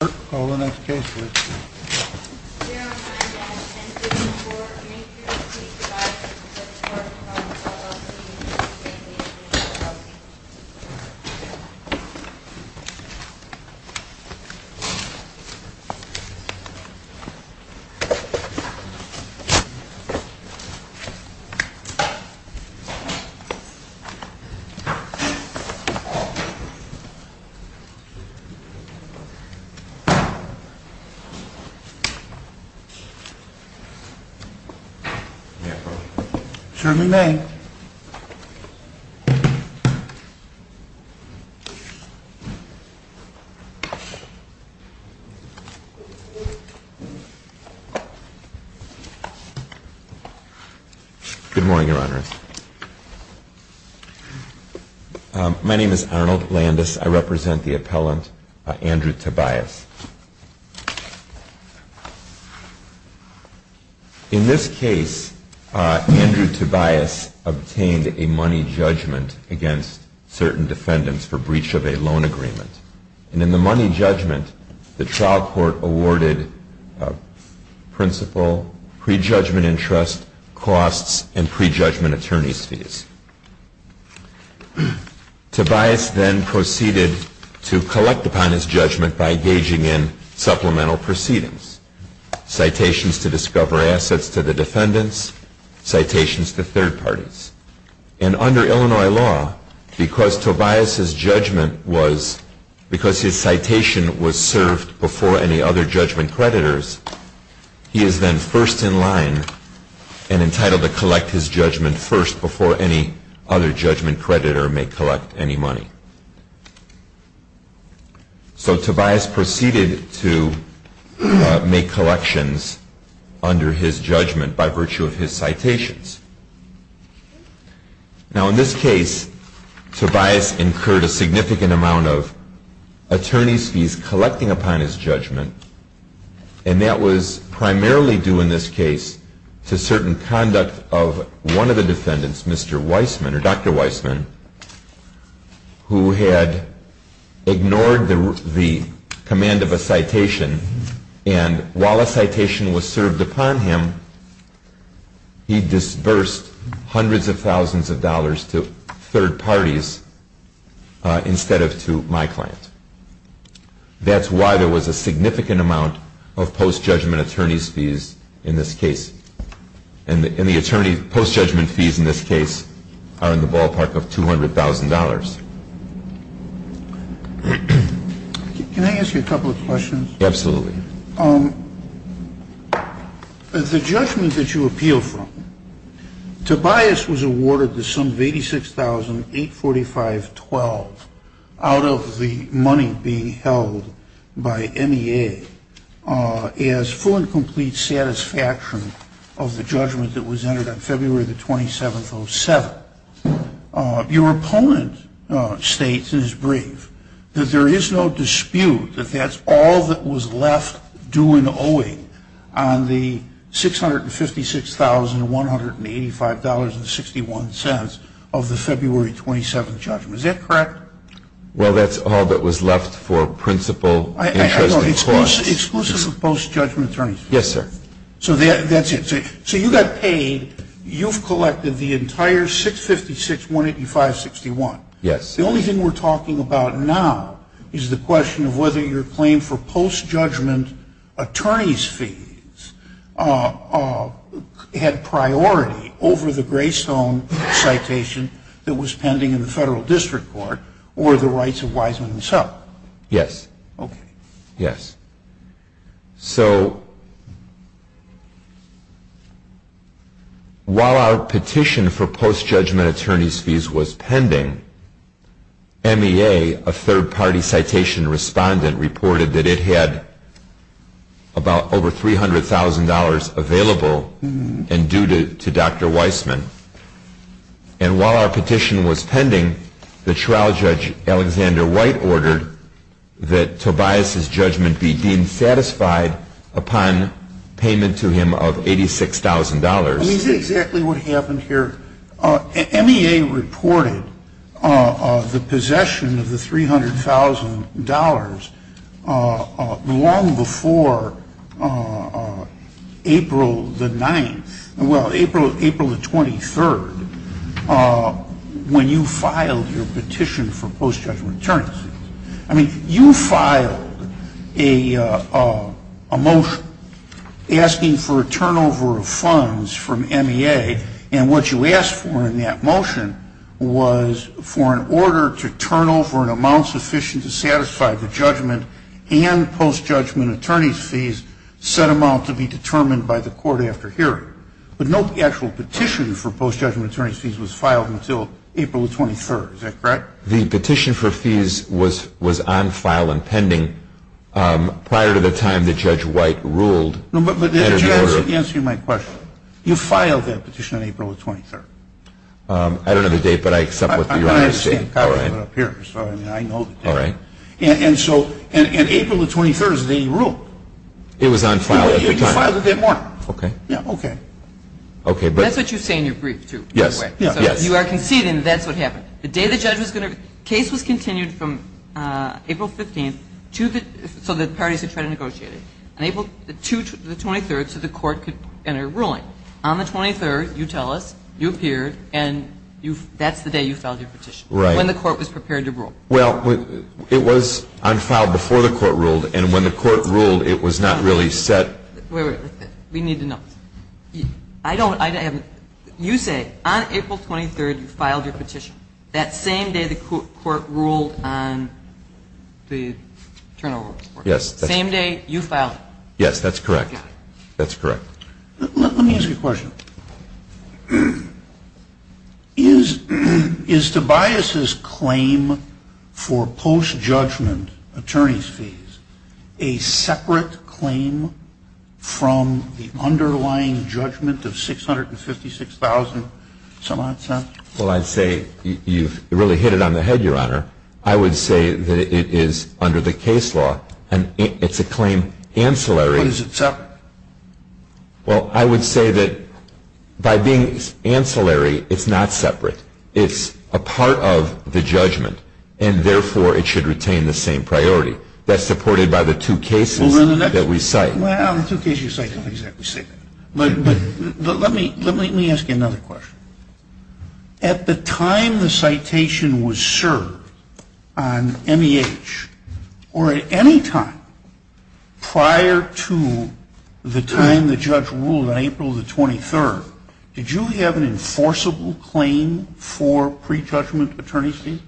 Call the next case please. Good morning, Your Honors. My name is Arnold Landis. I represent the appellant, Andrew Tobias. In this case, Andrew Tobias obtained a money judgment against certain defendants for breach of a loan agreement. In the money judgment, the trial court awarded principal, pre-judgment interest, costs, and pre-judgment attorney's fees. Tobias then proceeded to collect upon his judgment by gauging in supplemental proceedings, citations to discover assets to the defendants, citations to third parties. And under Illinois law, because Tobias' judgment was, because his citation was served before any other judgment creditors, he is then first in line and entitled to collect his judgment first before any other judgment creditor may collect any money. So Tobias proceeded to make collections under his judgment by virtue of his citations. Now in this case, Tobias incurred a significant amount of attorney's fees collecting upon his judgment, and that was primarily due in this case to certain conduct of one of the defendants, Mr. Weisman, or Dr. Weisman, who had ignored the command of a citation and while a citation was served upon him, he disbursed hundreds of thousands of dollars to third parties instead of to my client. That's why there was a significant amount of post-judgment attorney's fees in this case. And the post-judgment fees in this case are in the ballpark of $200,000. Can I ask you a couple of questions? Absolutely. The judgment that you appeal from, Tobias was awarded the sum of $86,845.12 out of the money being held by MEA as full and complete satisfaction of the judgment that was entered on February the 27th, 07. Your opponent states in his brief that there is no dispute that that's all that was left due and owing on the $656,185.61 of the February 27th judgment. Is that correct? Well, that's all that was left for principal interest and costs. Exclusive of post-judgment attorneys. Yes, sir. So that's it. So you got paid. You've collected the entire $656,185.61. Yes. The only thing we're talking about now is the question of whether your claim for post-judgment attorney's fees had priority over the Greystone citation that was pending in the federal district court or the rights of Wiseman himself. Yes. Okay. Yes. So while our petition for post-judgment attorney's fees was pending, MEA, a third-party citation respondent, reported that it had about over $300,000 available and due to Dr. Wiseman. And while our petition was pending, the trial judge, Alexander White, ordered that Tobias's judgment be deemed satisfied upon payment to him of $86,000. Is this exactly what happened here? MEA reported the possession of the $300,000 long before April the 9th, well, April the 23rd, when you filed your petition for post-judgment attorney's fees. I mean, you filed a motion asking for a turnover of funds from MEA, and what you asked for in that motion was for an order to turn over an amount sufficient to satisfy the judgment and post-judgment attorney's fees set amount to be determined by the court after hearing. But no actual petition for post-judgment attorney's fees was filed until April the 23rd. Is that correct? The petition for fees was on file and pending prior to the time that Judge White ruled. But there's a chance of answering my question. You filed that petition on April the 23rd. I don't know the date, but I accept what you're saying. I know the date. All right. I know the date. All right. And so in April the 23rd is the date you ruled. It was on file at the time. You filed it that morning. Okay. Yeah, okay. That's what you say in your brief, too, by the way. Yes, yes. So you are conceding that that's what happened. The day the judge was going to – the case was continued from April 15th to the – to the 23rd so the court could enter a ruling. On the 23rd, you tell us, you appeared, and that's the day you filed your petition. Right. When the court was prepared to rule. Well, it was on file before the court ruled. And when the court ruled, it was not really set. Wait, wait, wait. We need to know. I don't – you say on April 23rd you filed your petition. That same day the court ruled on the turnover report. Yes. Same day you filed it. Yes, that's correct. That's correct. Let me ask you a question. Is Tobias' claim for post-judgment attorney's fees a separate claim from the underlying judgment of $656,000? Well, I'd say you've really hit it on the head, Your Honor. I would say that it is under the case law, and it's a claim ancillary. But is it separate? Well, I would say that by being ancillary, it's not separate. It's a part of the judgment, and therefore it should retain the same priority. That's supported by the two cases that we cite. Well, the two cases you cite don't exactly say that. But let me ask you another question. At the time the citation was served on NEH, or at any time prior to the time the judge ruled on April 23rd, did you have an enforceable claim for pre-judgment attorney's fees?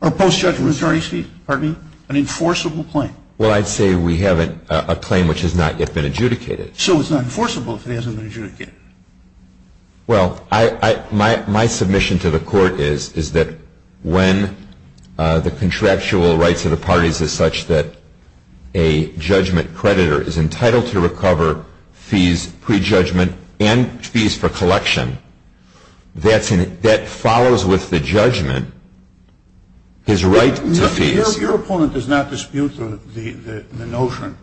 Or post-judgment attorney's fees? Pardon me? An enforceable claim? Well, I'd say we have a claim which has not yet been adjudicated. So it's not enforceable if it hasn't been adjudicated? Well, my submission to the Court is that when the contractual rights of the parties is such that a judgment creditor is entitled to recover fees pre-judgment and fees for collection, that follows with the judgment his right to fees. Your opponent does not dispute the notion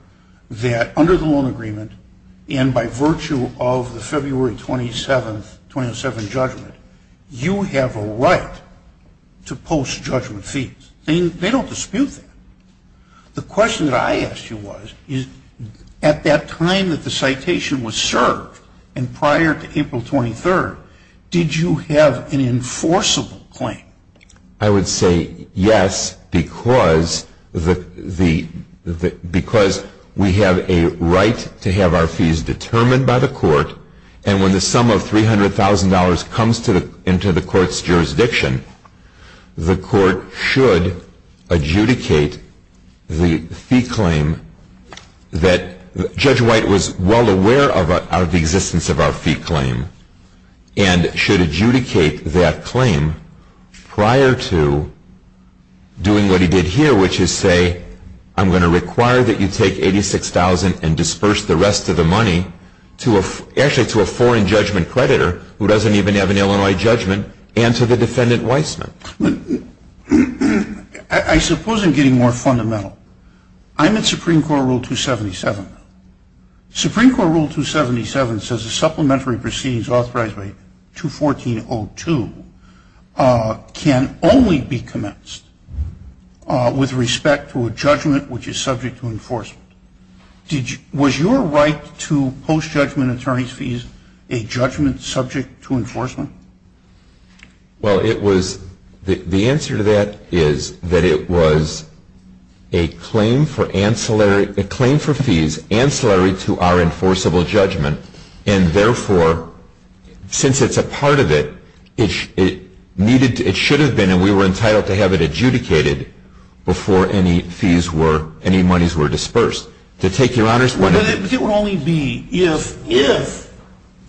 that under the loan agreement and by virtue of the February 27th judgment, you have a right to post-judgment fees. They don't dispute that. The question that I asked you was, at that time that the citation was served and prior to April 23rd, did you have an enforceable claim? I would say yes because we have a right to have our fees determined by the Court and when the sum of $300,000 comes into the Court's jurisdiction, the Court should adjudicate the fee claim that Judge White was well aware of the existence of our fee claim and should adjudicate that claim prior to doing what he did here which is say, I'm going to require that you take $86,000 and disperse the rest of the money actually to a foreign judgment creditor who doesn't even have an Illinois judgment and to the defendant Weissman. I suppose I'm getting more fundamental. I'm at Supreme Court Rule 277. Supreme Court Rule 277 says the supplementary proceedings authorized by 214.02 can only be commenced with respect to a judgment which is subject to enforcement. Was your right to post-judgment attorney's fees a judgment subject to enforcement? Well, the answer to that is that it was a claim for fees ancillary to our enforceable judgment and therefore, since it's a part of it, it should have been and we were entitled to have it adjudicated before any monies were dispersed. It would only be if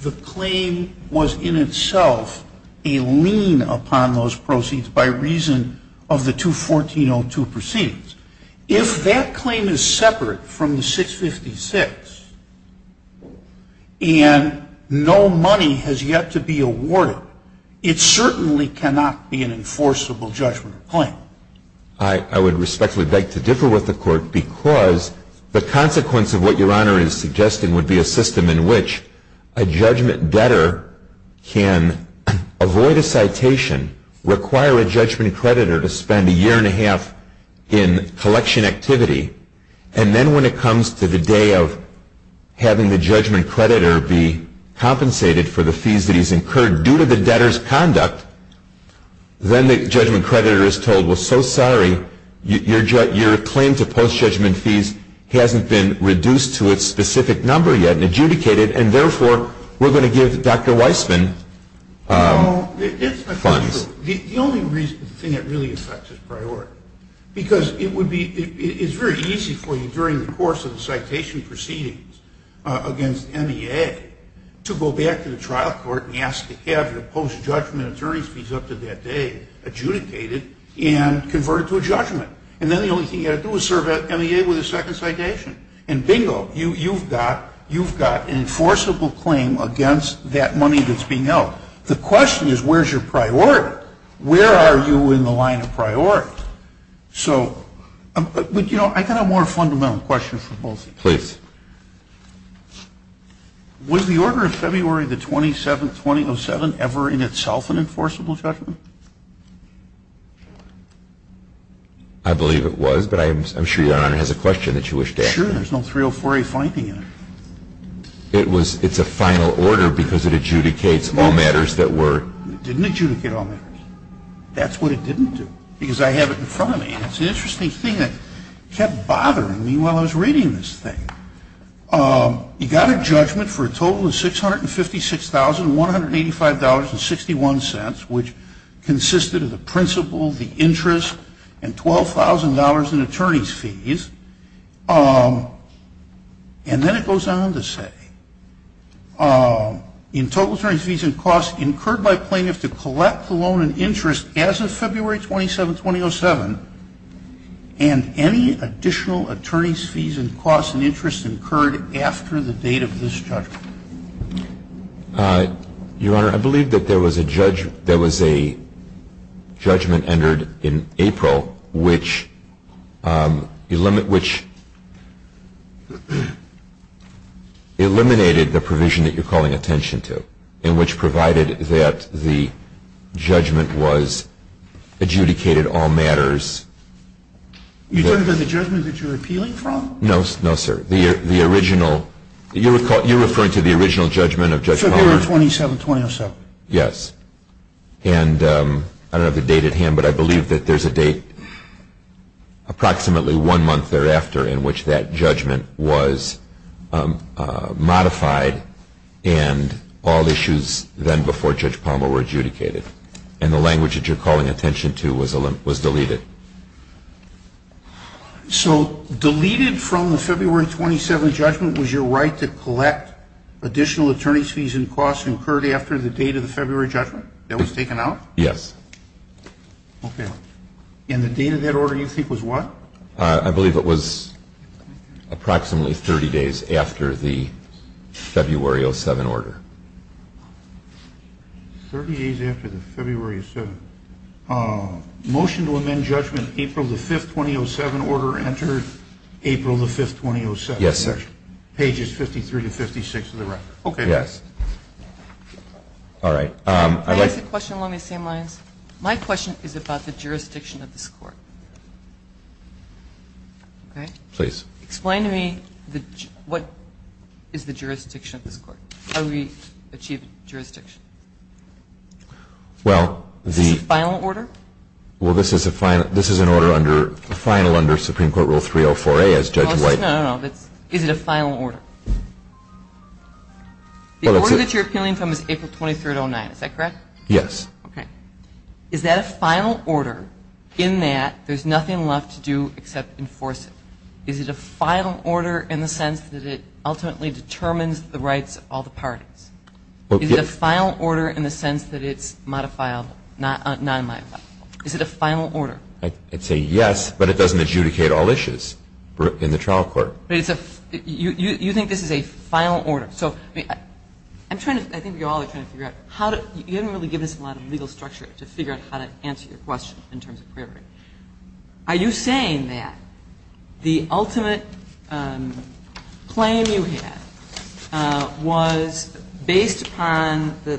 the claim was in itself a lien upon those proceeds by reason of the 214.02 proceedings. If that claim is separate from the 656 and no money has yet to be awarded, it certainly cannot be an enforceable judgment claim. I would respectfully beg to differ with the Court because the consequence of what Your Honor is suggesting would be a system in which a judgment debtor can avoid a citation, require a judgment creditor to spend a year and a half in collection activity, and then when it comes to the day of having the judgment creditor be compensated for the fees that he's incurred due to the debtor's conduct, then the judgment creditor is told, well, so sorry, your claim to post-judgment fees hasn't been reduced to its specific number yet and adjudicated and therefore, we're going to give Dr. Weissman funds. The only reason it really affects his priority, because it's very easy for you during the course of the citation proceedings against NEA to go back to the trial court and ask to have your post-judgment attorney's fees up to that day adjudicated and converted to a judgment. And then the only thing you've got to do is serve NEA with a second citation. And bingo, you've got an enforceable claim against that money that's being held. The question is, where's your priority? Where are you in the line of priority? So, you know, I've got a more fundamental question for both of you. Please. Was the order of February the 27th, 2007 ever in itself an enforceable judgment? I believe it was, but I'm sure Your Honor has a question that you wish to ask. Sure, there's no 304A finding in it. It's a final order because it adjudicates all matters that were... It didn't adjudicate all matters. That's what it didn't do, because I have it in front of me. It's an interesting thing that kept bothering me while I was reading this thing. You got a judgment for a total of $656,185.61, which consisted of the principal, the interest, and $12,000 in attorney's fees. And then it goes on to say, in total attorney's fees and costs incurred by plaintiff to collect the loan and interest as of February 27, 2007, and any additional attorney's fees and costs and interest incurred after the date of this judgment. Your Honor, I believe that there was a judgment entered in April, which eliminated the provision that you're calling attention to, and which provided that the judgment was adjudicated all matters... You're talking about the judgment that you're appealing from? No, sir. The original... You're referring to the original judgment of Judge Palmer? February 27, 2007. Yes. And I don't have the date at hand, but I believe that there's a date approximately one month thereafter in which that judgment was modified and all issues then before Judge Palmer were adjudicated. And the language that you're calling attention to was deleted. So deleted from the February 27 judgment was your right to collect additional attorney's fees and costs incurred after the date of the February judgment that was taken out? Yes. Okay. And the date of that order you think was what? I believe it was approximately 30 days after the February 07 order. Thirty days after the February 07. Motion to amend judgment April the 5th, 2007 order entered April the 5th, 2007. Yes, sir. Pages 53 to 56 of the record. Okay. Yes. All right. May I ask a question along these same lines? My question is about the jurisdiction of this court. Okay. Please. Explain to me what is the jurisdiction of this court? How do we achieve jurisdiction? Well, the... Is this a final order? Well, this is a final under Supreme Court Rule 304A as Judge White... No, no, no. Is it a final order? The order that you're appealing from is April 23, 2009. Is that correct? Yes. Okay. Is that a final order in that there's nothing left to do except enforce it? Is it a final order in the sense that it ultimately determines the rights of all the parties? Is it a final order in the sense that it's modified, non-modified? Is it a final order? I'd say yes, but it doesn't adjudicate all issues in the trial court. You think this is a final order. So I think you all are trying to figure out how to you haven't really given us a lot of legal structure to figure out how to answer your question in terms of clarity. Are you saying that the ultimate claim you had was based upon the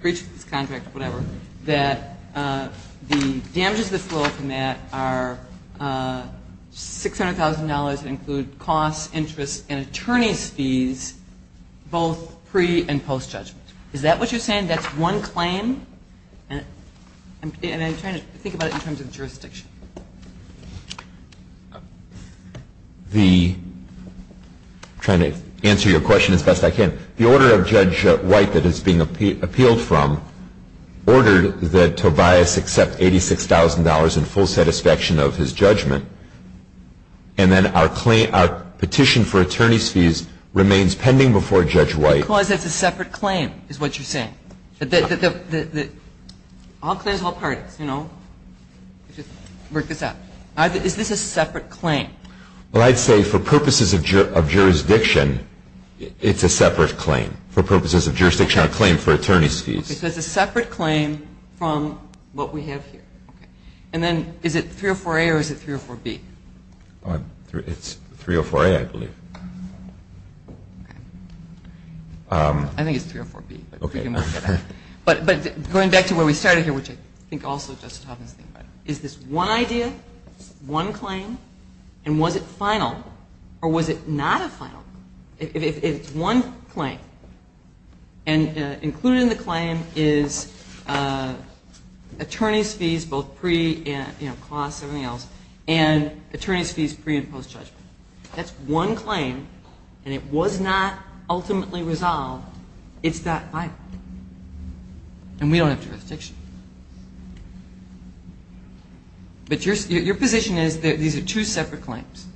breach of this contract, whatever, that the damages that flow from that are $600,000 and include costs, interests, and attorneys' fees both pre- and post-judgment? Is that what you're saying? That's one claim? And I'm trying to think about it in terms of jurisdiction. I'm trying to answer your question as best I can. The order of Judge White that is being appealed from ordered that Tobias accept $86,000 in full satisfaction of his judgment. And then our petition for attorneys' fees remains pending before Judge White. Because it's a separate claim is what you're saying. All claims, all parties, you know. Work this out. Is this a separate claim? Well, I'd say for purposes of jurisdiction, it's a separate claim. For purposes of jurisdiction, a claim for attorneys' fees. It's a separate claim from what we have here. And then is it 304A or is it 304B? It's 304A, I believe. Okay. I think it's 304B. Okay. But going back to where we started here, which I think also Justice Taubman is thinking about, is this one idea, one claim, and was it final? Or was it not a final? It's one claim. And included in the claim is attorneys' fees, both pre and, you know, cost and everything else, and attorneys' fees pre and post judgment. That's one claim, and it was not ultimately resolved. It's not final. And we don't have jurisdiction. But your position is that these are two separate claims.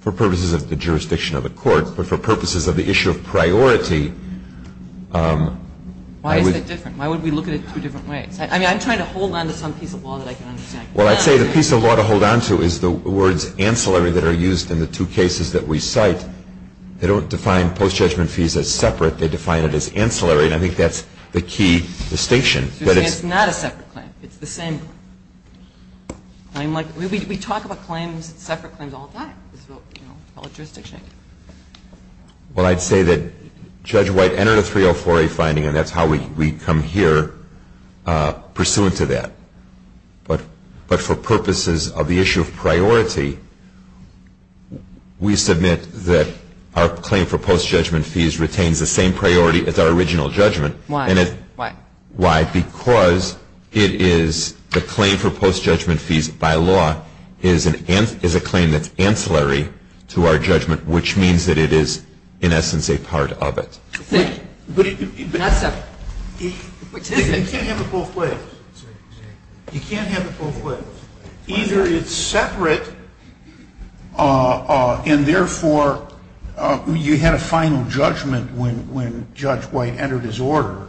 For purposes of the jurisdiction of the court, but for purposes of the issue of priority. Why is it different? Why would we look at it two different ways? I mean, I'm trying to hold on to some piece of law that I can understand. Well, I'd say the piece of law to hold on to is the words ancillary that are used in the two cases that we cite. They don't define post judgment fees as separate. They define it as ancillary, and I think that's the key distinction. It's not a separate claim. It's the same claim. We talk about claims, separate claims, all the time. It's all a jurisdiction. Well, I'd say that Judge White entered a 304A finding, and that's how we come here pursuant to that. But for purposes of the issue of priority, we submit that our claim for post judgment fees retains the same priority as our original judgment. Why? Why? Because it is the claim for post judgment fees by law is a claim that's ancillary to our judgment, which means that it is, in essence, a part of it. But it's not separate. You can't have it both ways. You can't have it both ways. Either it's separate, and, therefore, you had a final judgment when Judge White entered his order,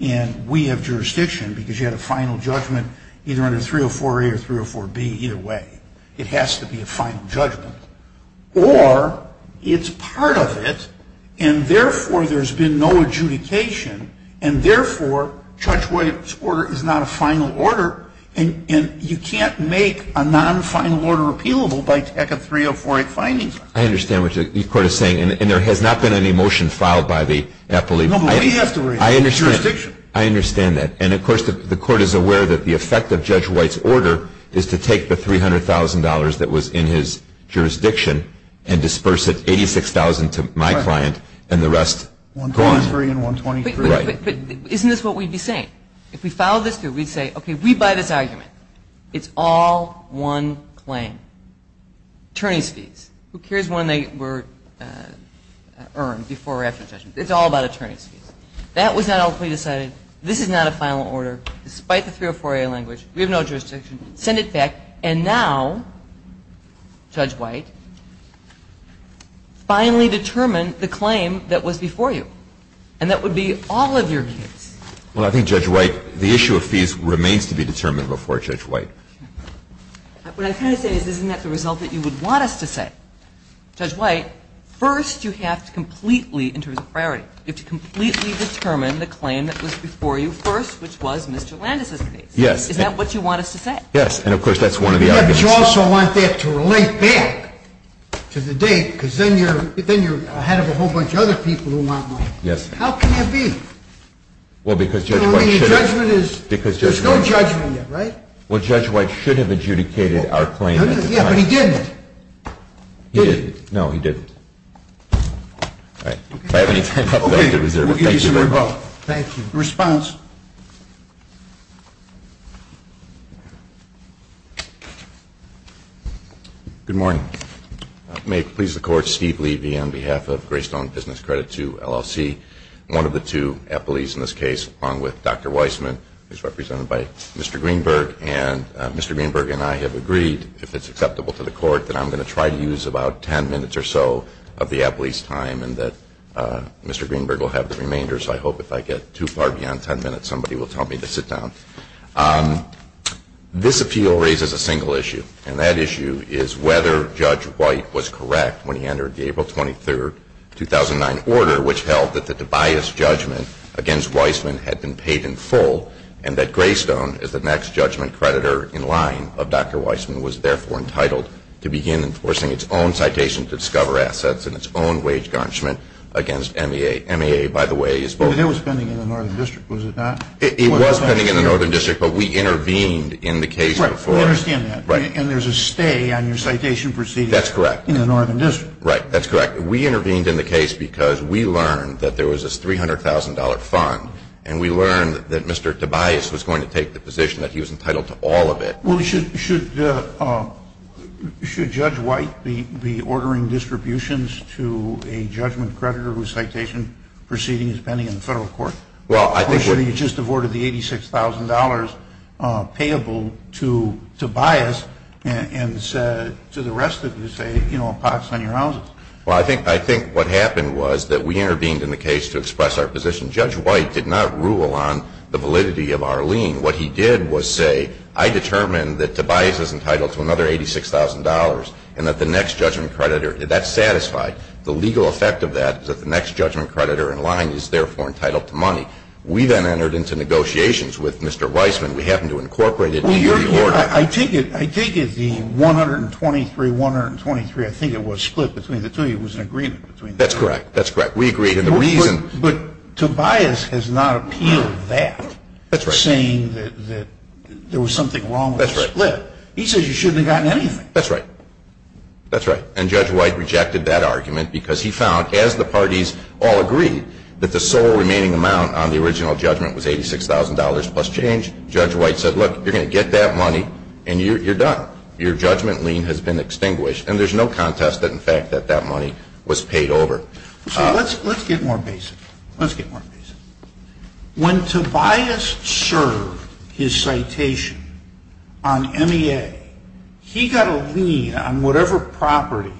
and we have jurisdiction because you had a final judgment either under 304A or 304B, either way. It has to be a final judgment. Or it's part of it, and, therefore, there's been no adjudication, and, therefore, Judge White's order is not a final order, and you can't make a non-final order appealable by tech of 304A findings. I understand what the Court is saying, and there has not been any motion filed by the appellee. No, but we have to raise it. I understand. Jurisdiction. I understand that. And, of course, the Court is aware that the effect of Judge White's order is to take the $300,000 that was in his jurisdiction and disperse it, $86,000, to my client, and the rest, gone. $123,000 and $123,000. Right. But isn't this what we'd be saying? If we followed this through, we'd say, okay, we buy this argument. It's all one claim. Attorney's fees. Who cares when they were earned before or after the judgment? It's all about attorney's fees. That was not how we decided this is not a final order, despite the 304A language. We have no jurisdiction. Send it back. And now, Judge White, finally determine the claim that was before you, and that would be all of your kids. Well, I think, Judge White, the issue of fees remains to be determined before Judge White. What I'm trying to say is isn't that the result that you would want us to say? Judge White, first you have to completely, in terms of priority, you have to completely determine the claim that was before you first, which was Mr. Landis' case. Yes. Is that what you want us to say? Yes. And, of course, that's one of the arguments. But you also want that to relate back to the date, because then you're ahead of a whole bunch of other people who want money. Yes. How can that be? Well, because Judge White should have... No, I mean, the judgment is... Because Judge White... There's no judgment yet, right? Well, Judge White should have adjudicated our claim at the time. Yeah, but he didn't. He didn't. No, he didn't. All right. If I have any time, I'll fill out the reservations. Okay. We'll give you some more time. Thank you. Response. Good morning. May it please the Court, Steve Levy on behalf of Greystone Business Credit II, LLC. One of the two appellees in this case, along with Dr. Weissman, who's represented by Mr. Greenberg. And Mr. Greenberg and I have agreed, if it's acceptable to the Court, that I'm going to try to use about 10 minutes or so of the appellee's time and that Mr. Greenberg will have the remainder. So I hope if I get too far beyond 10 minutes, somebody will tell me to sit down. This appeal raises a single issue, and that issue is whether Judge White was correct when he entered the April 23, 2009, order, which held that the Tobias judgment against Weissman had been paid in full and that Greystone, as the next judgment creditor in line of Dr. Weissman, was therefore entitled to begin enforcing its own citation to discover assets and its own wage garnishment against MAA. MAA, by the way, is both. It was pending in the Northern District, was it not? It was pending in the Northern District, but we intervened in the case before. Right. We understand that. Right. And there's a stay on your citation proceeding. That's correct. In the Northern District. Right. That's correct. We intervened in the case because we learned that there was this $300,000 fund, and we learned that Mr. Tobias was going to take the position that he was entitled to all of it. Well, should Judge White be ordering distributions to a judgment creditor whose citation proceeding is pending in the federal court? Or should he just have ordered the $86,000 payable to Tobias and said to the rest of you, say, you know, a pox on your houses? Well, I think what happened was that we intervened in the case to express our position. Judge White did not rule on the validity of our lien. What he did was say, I determine that Tobias is entitled to another $86,000 and that the next judgment creditor, that's satisfied. The legal effect of that is that the next judgment creditor in line is therefore entitled to money. We then entered into negotiations with Mr. Weisman. We happened to incorporate it into the order. I take it the 123-123, I think it was split between the two of you. It was an agreement between the two of you. That's correct. That's correct. We agreed on the reason. But Tobias has not appealed that. That's right. Saying that there was something wrong with the split. That's right. He says you shouldn't have gotten anything. That's right. That's right. And Judge White rejected that argument because he found, as the parties all agreed, that the sole remaining amount on the original judgment was $86,000 plus change. Judge White said, look, you're going to get that money and you're done. Your judgment lien has been extinguished. And there's no contest in fact that that money was paid over. Let's get more basic. When Tobias served his citation on MEA, he got a lien on whatever property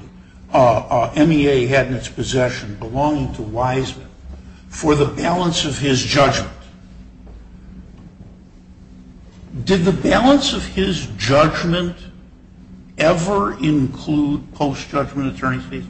MEA had in its possession belonging to Weisman for the balance of his judgment. Did the balance of his judgment ever include post-judgment attorney fees?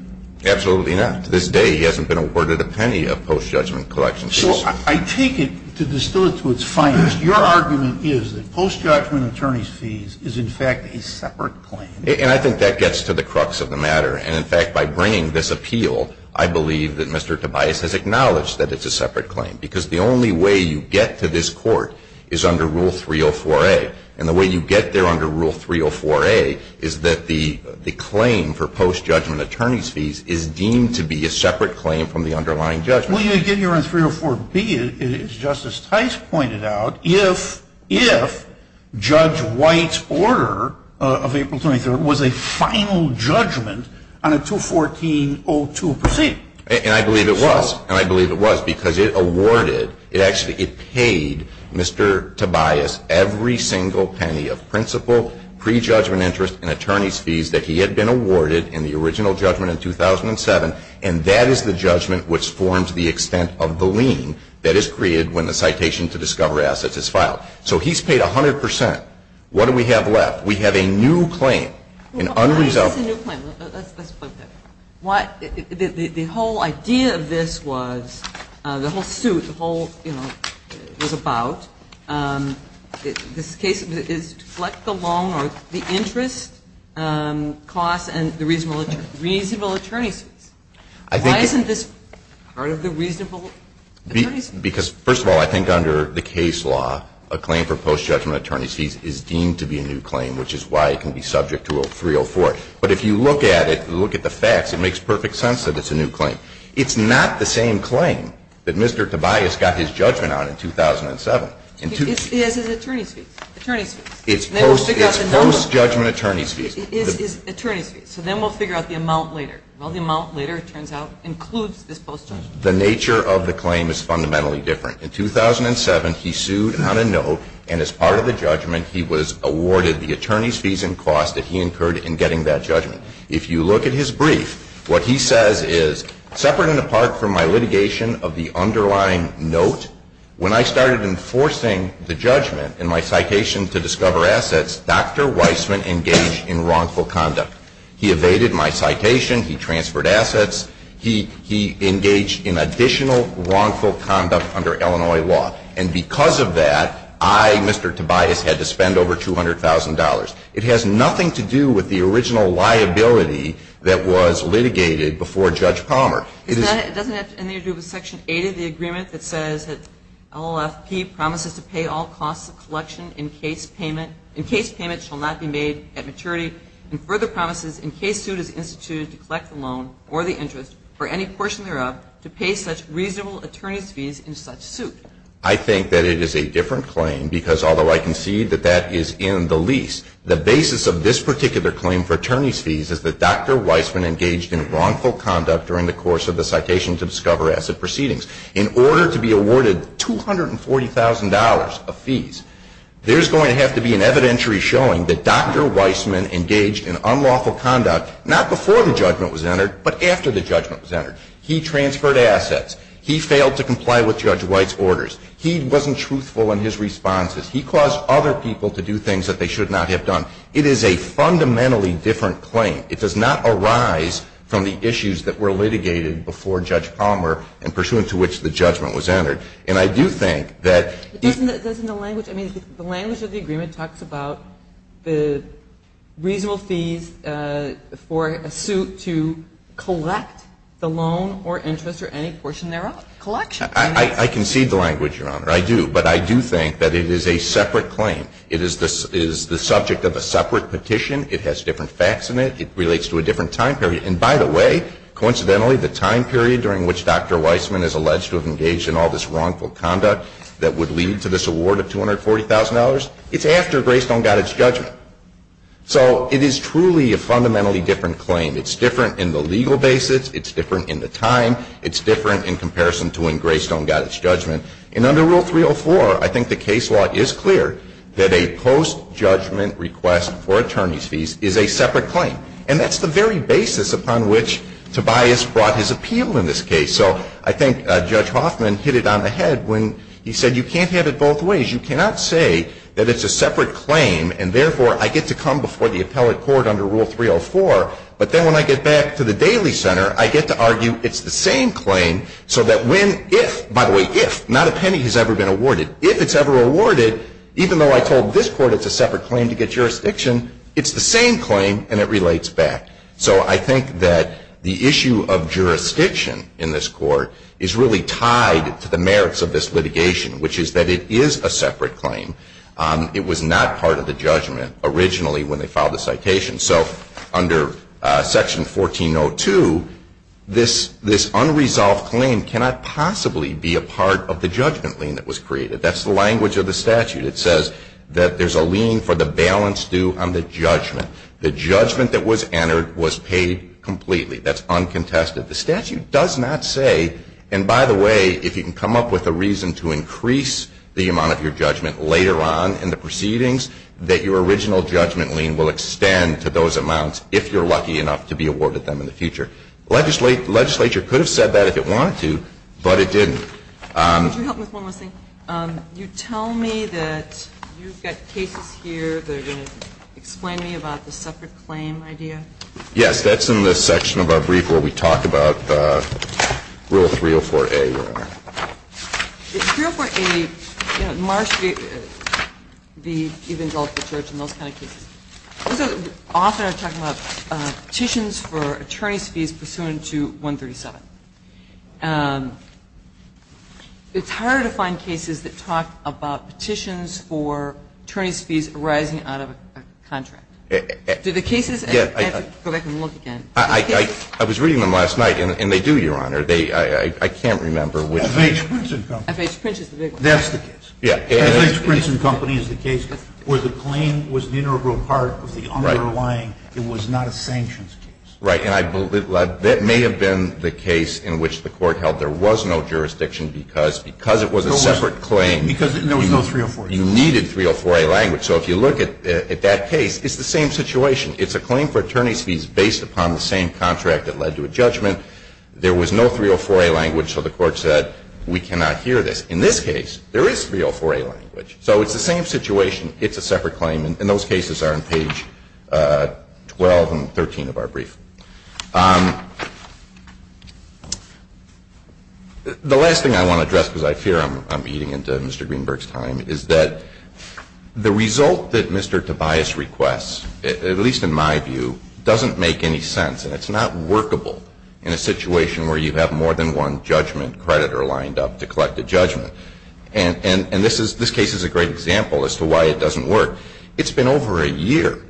Absolutely not. To this day, he hasn't been awarded a penny of post-judgment collection fees. So I take it, to distill it to its finest, your argument is that post-judgment attorney fees is in fact a separate claim. And I think that gets to the crux of the matter. And in fact, by bringing this appeal, I believe that Mr. Tobias has acknowledged that it's a separate claim. Because the only way you get to this court is under Rule 304A. And the way you get there under Rule 304A is that the claim for post-judgment attorney fees is deemed to be a separate claim from the underlying judgment. Well, you get here under 304B, as Justice Tice pointed out, if Judge White's order of April 23rd was a final judgment on a 214-02 proceeding. And I believe it was. And I believe it was, because it awarded, it actually paid Mr. Tobias every single penny of principal pre-judgment interest in attorneys' fees that he had been awarded in the original judgment in 2007. And that is the judgment which forms the extent of the lien that is created when the citation to discover assets is filed. So he's paid 100 percent. What do we have left? We have a new claim, an unresolved one. Well, why is this a new claim? Let's put it that way. The whole idea of this was, the whole suit, the whole, you know, was about, this case is to collect the loan or the interest costs and the reasonable attorneys' fees. Why isn't this part of the reasonable attorneys' fees? Because, first of all, I think under the case law, a claim for post-judgment attorney fees is deemed to be a new claim, which is why it can be subject to 304. But if you look at it, look at the facts, it makes perfect sense that it's a new claim. It's not the same claim that Mr. Tobias got his judgment on in 2007. It is his attorney's fees, attorney's fees. It's post-judgment attorney's fees. It is his attorney's fees. So then we'll figure out the amount later. Well, the amount later, it turns out, includes this post-judgment. The nature of the claim is fundamentally different. In 2007, he sued on a note, and as part of the judgment, he was awarded the attorney's fees and costs that he incurred in getting that judgment. If you look at his brief, what he says is, separate and apart from my litigation of the underlying note, when I started enforcing the judgment in my citation to discover assets, Dr. Weissman engaged in wrongful conduct. He evaded my citation. He transferred assets. He engaged in additional wrongful conduct under Illinois law. And because of that, I, Mr. Tobias, had to spend over $200,000. It has nothing to do with the original liability that was litigated before Judge Palmer. It doesn't have anything to do with Section 8 of the agreement that says that LLFP promises to pay all costs of collection in case payment shall not be made at maturity and further promises in case suit is instituted to collect the loan or the interest for any portion thereof to pay such reasonable attorney's fees in such suit. I think that it is a different claim because, although I concede that that is in the lease, the basis of this particular claim for attorney's fees is that Dr. Weissman engaged in wrongful conduct during the course of the citation to discover asset proceedings. In order to be awarded $240,000 of fees, there is going to have to be an evidentiary showing that Dr. Weissman engaged in unlawful conduct, not before the judgment was entered, but after the judgment was entered. He transferred assets. He failed to comply with Judge White's orders. He wasn't truthful in his responses. He caused other people to do things that they should not have done. It is a fundamentally different claim. It does not arise from the issues that were litigated before Judge Palmer and pursuant to which the judgment was entered. And I do think that the language of the agreement talks about the reasonable fees for a suit to collect the loan or interest or any portion thereof. Collection. I concede the language, Your Honor. I do. But I do think that it is a separate claim. It is the subject of a separate petition. It has different facts in it. It relates to a different time period. And, by the way, coincidentally, the time period during which Dr. Weissman is alleged to have engaged in all this wrongful conduct that would lead to this award of $240,000, it's after Greystone got its judgment. So it is truly a fundamentally different claim. It's different in the legal basis. It's different in the time. It's different in comparison to when Greystone got its judgment. And under Rule 304, I think the case law is clear that a post-judgment request for attorney's fees is a separate claim. And that's the very basis upon which Tobias brought his appeal in this case. So I think Judge Hoffman hit it on the head when he said you can't have it both ways. You cannot say that it's a separate claim and, therefore, I get to come before the appellate court under Rule 304, but then when I get back to the Daly Center, I get to argue it's the same claim so that when, if, by the way, if, not a penny has ever been awarded. If it's ever awarded, even though I told this court it's a separate claim to get jurisdiction, it's the same claim and it relates back. So I think that the issue of jurisdiction in this court is really tied to the merits of this litigation, which is that it is a separate claim. It was not part of the judgment originally when they filed the citation. So under Section 1402, this unresolved claim cannot possibly be a part of the judgment lien that was created. That's the language of the statute. It says that there's a lien for the balance due on the judgment. The judgment that was entered was paid completely. That's uncontested. The statute does not say, and by the way, if you can come up with a reason to increase the amount of your judgment later on in the proceedings, that your original judgment lien will extend to those amounts if you're lucky enough to be awarded them in the future. The legislature could have said that if it wanted to, but it didn't. Could you help me with one last thing? You tell me that you've got cases here that are going to explain to me about the separate claim idea? Yes. That's in the section of our brief where we talk about Rule 304A. Rule 304A, you know, in Marsh v. Evangelical Church and those kind of cases, those are often talking about petitions for attorney's fees pursuant to 137. It's hard to find cases that talk about petitions for attorney's fees arising out of a contract. Do the cases go back and look again? I was reading them last night, and they do, Your Honor. I can't remember which. FH Prince and Company. FH Prince is the big one. That's the case. FH Prince and Company is the case where the claim was the integral part of the underlying. It was not a sanctions case. Right. And I believe that may have been the case in which the Court held there was no jurisdiction because it was a separate claim. Because there was no 304A. You needed 304A language. So if you look at that case, it's the same situation. It's a claim for attorney's fees based upon the same contract that led to a judgment. There was no 304A language, so the Court said we cannot hear this. In this case, there is 304A language. So it's the same situation. It's a separate claim. And those cases are on page 12 and 13 of our brief. The last thing I want to address, because I fear I'm eating into Mr. Greenberg's time, is that the result that Mr. Tobias requests, at least in my view, doesn't make any sense. And it's not workable in a situation where you have more than one judgment creditor lined up to collect a judgment. And this case is a great example as to why it doesn't work. It's been over a year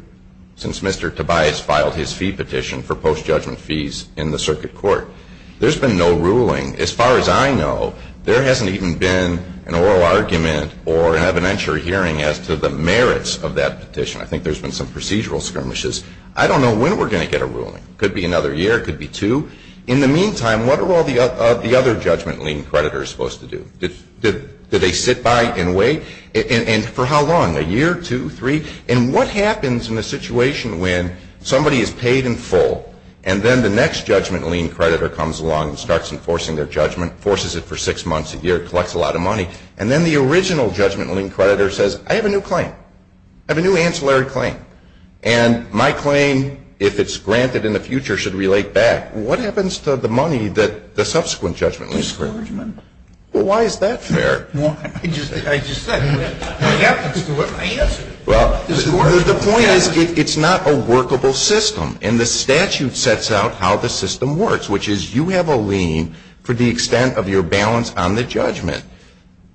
since Mr. Tobias filed his fee petition for post-judgment fees in the circuit court. There's been no ruling. As far as I know, there hasn't even been an oral argument or an evidentiary hearing as to the merits of that petition. I think there's been some procedural skirmishes. I don't know when we're going to get a ruling. Could be another year. Could be two. In the meantime, what are all the other judgment lien creditors supposed to do? Do they sit by and wait? And for how long? A year, two, three? And what happens in a situation when somebody is paid in full, and then the next judgment lien creditor comes along and starts enforcing their judgment, forces it for six months, a year, collects a lot of money, and then the original judgment lien creditor says, I have a new claim. I have a new ancillary claim. And my claim, if it's granted in the future, should relate back. What happens to the money that the subsequent judgment lien creditor gets? Discouragement. Well, why is that fair? I just said what happens to it. I answered it. Well, the point is it's not a workable system. And the statute sets out how the system works, which is you have a lien for the extent of your balance on the judgment.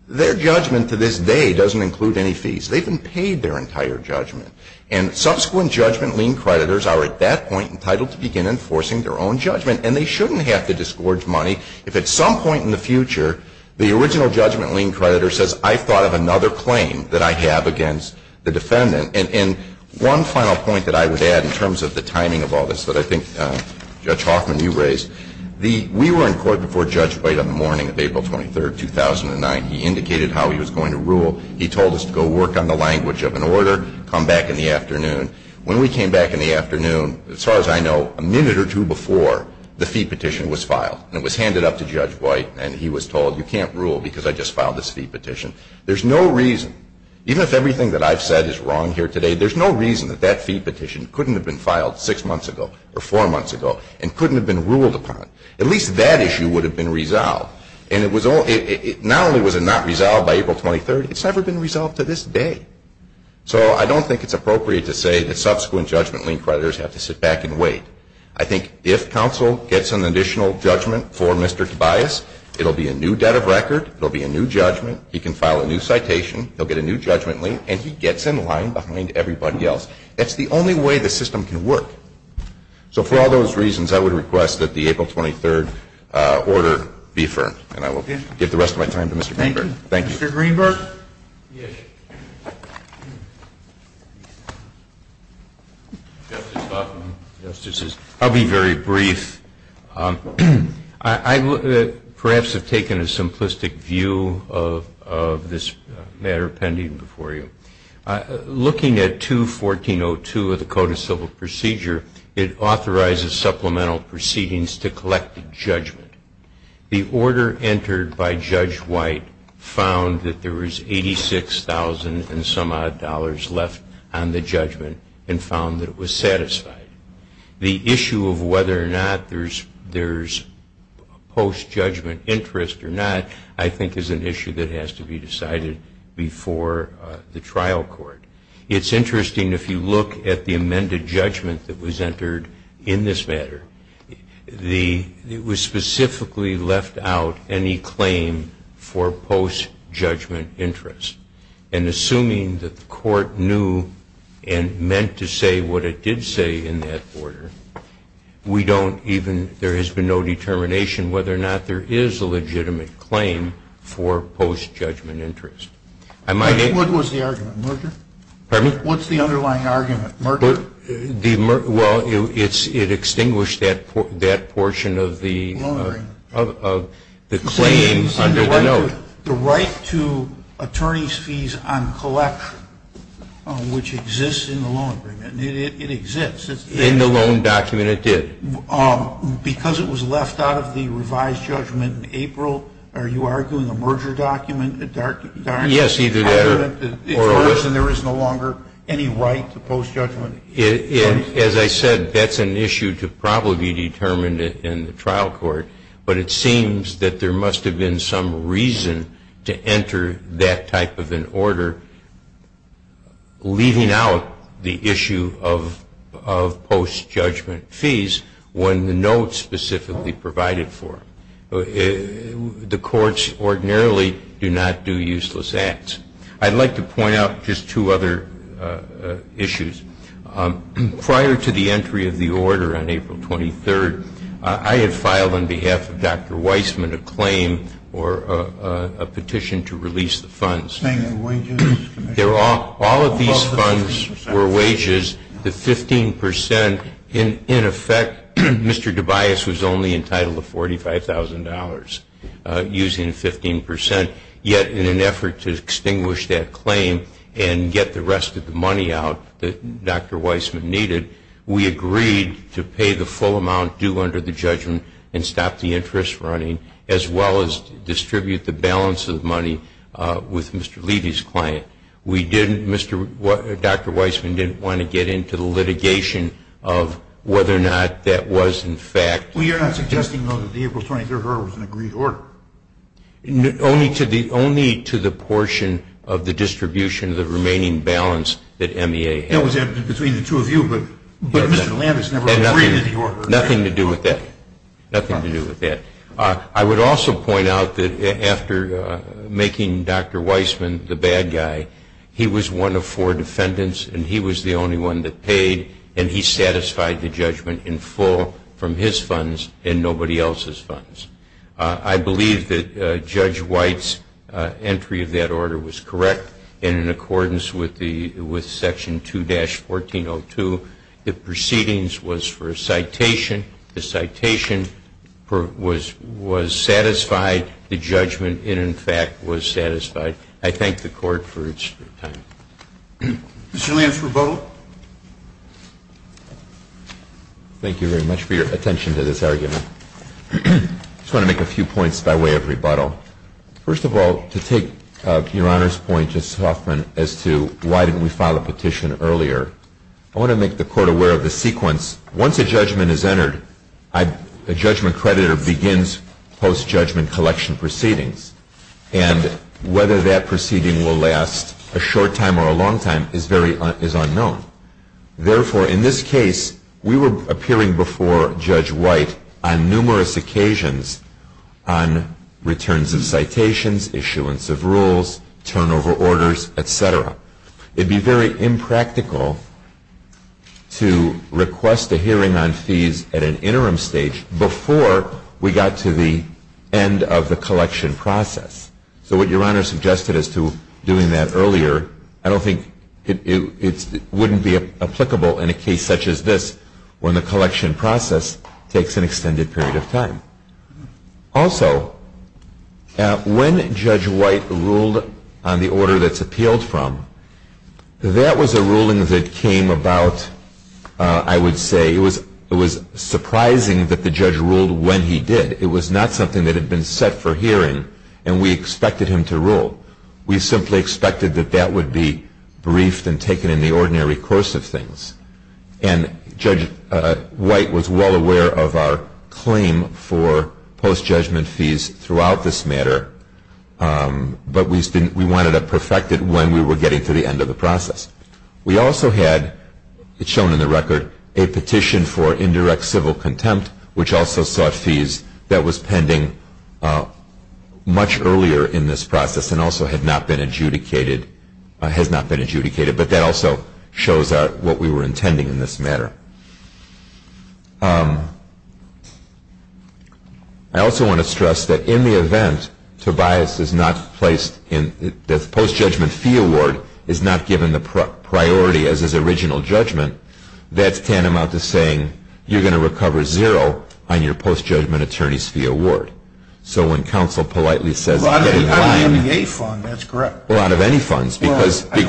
Their judgment to this day doesn't include any fees. They've been paid their entire judgment. And subsequent judgment lien creditors are at that point entitled to begin enforcing their own judgment. And they shouldn't have to disgorge money if at some point in the future the original judgment lien creditor says, I thought of another claim that I have against the defendant. And one final point that I would add in terms of the timing of all this that I think Judge Hoffman, you raised. We were in court before Judge White on the morning of April 23, 2009. He indicated how he was going to rule. He told us to go work on the language of an order, come back in the afternoon. When we came back in the afternoon, as far as I know, a minute or two before, the fee petition was filed. And it was handed up to Judge White. And he was told, you can't rule because I just filed this fee petition. There's no reason, even if everything that I've said is wrong here today, there's no reason that that fee petition couldn't have been filed six months ago or four months ago and couldn't have been ruled upon. At least that issue would have been resolved. And not only was it not resolved by April 23, it's never been resolved to this day. So I don't think it's appropriate to say that subsequent judgment lien creditors have to sit back and wait. I think if counsel gets an additional judgment for Mr. Tobias, it will be a new debt of record, it will be a new judgment, he can file a new citation, he'll get a new judgment lien, and he gets in line behind everybody else. That's the only way the system can work. So for all those reasons, I would request that the April 23 order be affirmed. And I will give the rest of my time to Mr. Greenberg. Thank you. Mr. Greenberg? Yes. I'll be very brief. I perhaps have taken a simplistic view of this matter pending before you. Looking at 214.02 of the Code of Civil Procedure, it authorizes supplemental proceedings to collect the judgment. The order entered by Judge White found that there was $86,000 in debt. There was $80,000 and some odd left on the judgment and found that it was satisfied. The issue of whether or not there's post-judgment interest or not, I think is an issue that has to be decided before the trial court. It's interesting, if you look at the amended judgment that was entered in this matter, it was specifically left out any claim for post-judgment interest. And assuming that the court knew and meant to say what it did say in that order, there has been no determination whether or not there is a legitimate claim for post-judgment interest. What was the argument? Merger? Pardon me? What's the underlying argument? Merger? Well, it extinguished that portion of the claim under the note. The right to attorney's fees on collection, which exists in the loan agreement. It exists. In the loan document, it did. Because it was left out of the revised judgment in April, are you arguing a merger document? Yes, either that or a what? Because there is no longer any right to post-judgment interest. As I said, that's an issue to probably determine in the trial court, but it seems that there must have been some reason to enter that type of an order, leaving out the issue of post-judgment fees when the note specifically provided for it. The courts ordinarily do not do useless acts. I'd like to point out just two other issues. Prior to the entry of the order on April 23rd, I had filed on behalf of Dr. Weissman a claim or a petition to release the funds. All of these funds were wages. The 15 percent, in effect, Mr. Tobias was only entitled to $45,000 using 15 percent, yet in an effort to extinguish that claim and get the rest of the money out that Dr. Weissman needed, we agreed to pay the full amount due under the judgment and stop the interest running, as well as distribute the balance of the money with Mr. Levy's client. Dr. Weissman didn't want to get into the litigation of whether or not that was in fact. Well, you're not suggesting, though, that the April 23rd order was an agreed order? Only to the portion of the distribution of the remaining balance that MEA had. That was between the two of you, but Mr. Levy has never agreed to the order. Nothing to do with that. I would also point out that after making Dr. Weissman the bad guy, he was one of four defendants and he was the only one that paid, and he satisfied the judgment in full from his funds and nobody else's funds. I believe that Judge White's entry of that order was correct, and in accordance with Section 2-1402, the proceedings was for a citation. The citation was satisfied. The judgment, in fact, was satisfied. I thank the Court for its time. Mr. Lance Roboto. Thank you very much for your attention to this argument. I just want to make a few points by way of rebuttal. First of all, to take Your Honor's point, Justice Hoffman, as to why didn't we file a petition earlier, I want to make the Court aware of the sequence. Once a judgment is entered, a judgment creditor begins post-judgment collection proceedings, and whether that proceeding will last a short time or a long time is unknown. Therefore, in this case, we were appearing before Judge White on numerous occasions on returns of citations, issuance of rules, turnover orders, et cetera. It would be very impractical to request a hearing on fees at an interim stage before we got to the end of the collection process. So what Your Honor suggested as to doing that earlier, I don't think it wouldn't be applicable in a case such as this when the collection process takes an extended period of time. Also, when Judge White ruled on the order that's appealed from, that was a ruling that came about, I would say, it was surprising that the judge ruled when he did. It was not something that had been set for hearing, and we expected him to rule. We simply expected that that would be briefed and taken in the ordinary course of things. And Judge White was well aware of our claim for post-judgment fees throughout this matter, but we wanted to perfect it when we were getting to the end of the process. We also had, shown in the record, a petition for indirect civil contempt, which also sought fees that was pending much earlier in this process and also had not been adjudicated, has not been adjudicated, but that also shows what we were intending in this matter. I also want to stress that in the event Tobias is not placed in, the post-judgment fee award is not given the priority as is original judgment, that's tantamount to saying you're going to recover zero on your post-judgment attorney's fee award. So when counsel politely says, I mean, out of any funds, because we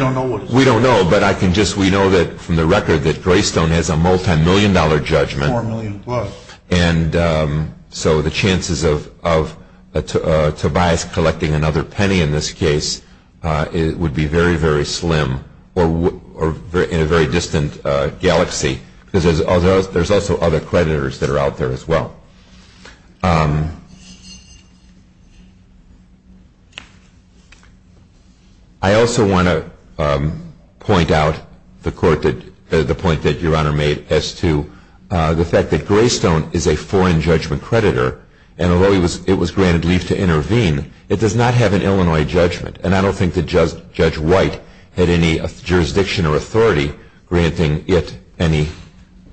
don't know, but we know from the record that Greystone has a multimillion dollar judgment, and so the chances of Tobias collecting another penny in this case would be very, very slim or in a very distant galaxy, because there's also other creditors that are out there as well. I also want to point out the point that Your Honor made as to the fact that Greystone is a foreign judgment creditor, and although it was granted leave to intervene, it does not have an Illinois judgment, and I don't think that Judge White had any jurisdiction or authority granting it any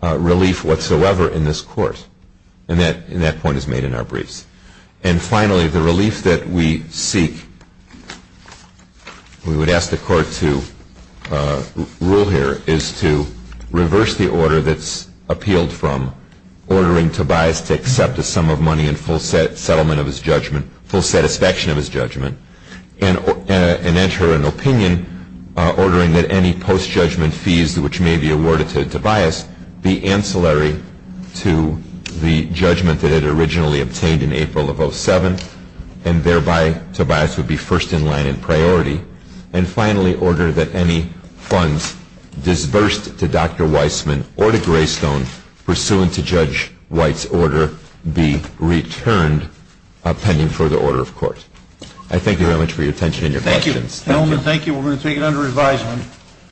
relief whatsoever in this court, and that point is made in our briefs. And finally, the relief that we seek, we would ask the court to rule here, is to reverse the order that's appealed from ordering Tobias to accept a sum of money in full settlement of his judgment, full satisfaction of his judgment, and enter an opinion ordering that any post-judgment fees which may be awarded to Tobias be ancillary to the judgment that it originally obtained in April of 07, and thereby Tobias would be first in line in priority, and finally order that any funds disbursed to Dr. Weissman or to Greystone pursuant to Judge White's order be returned pending further order of court. I thank you very much for your attention and your patience. Thank you. Thank you. We're going to take it under advisement.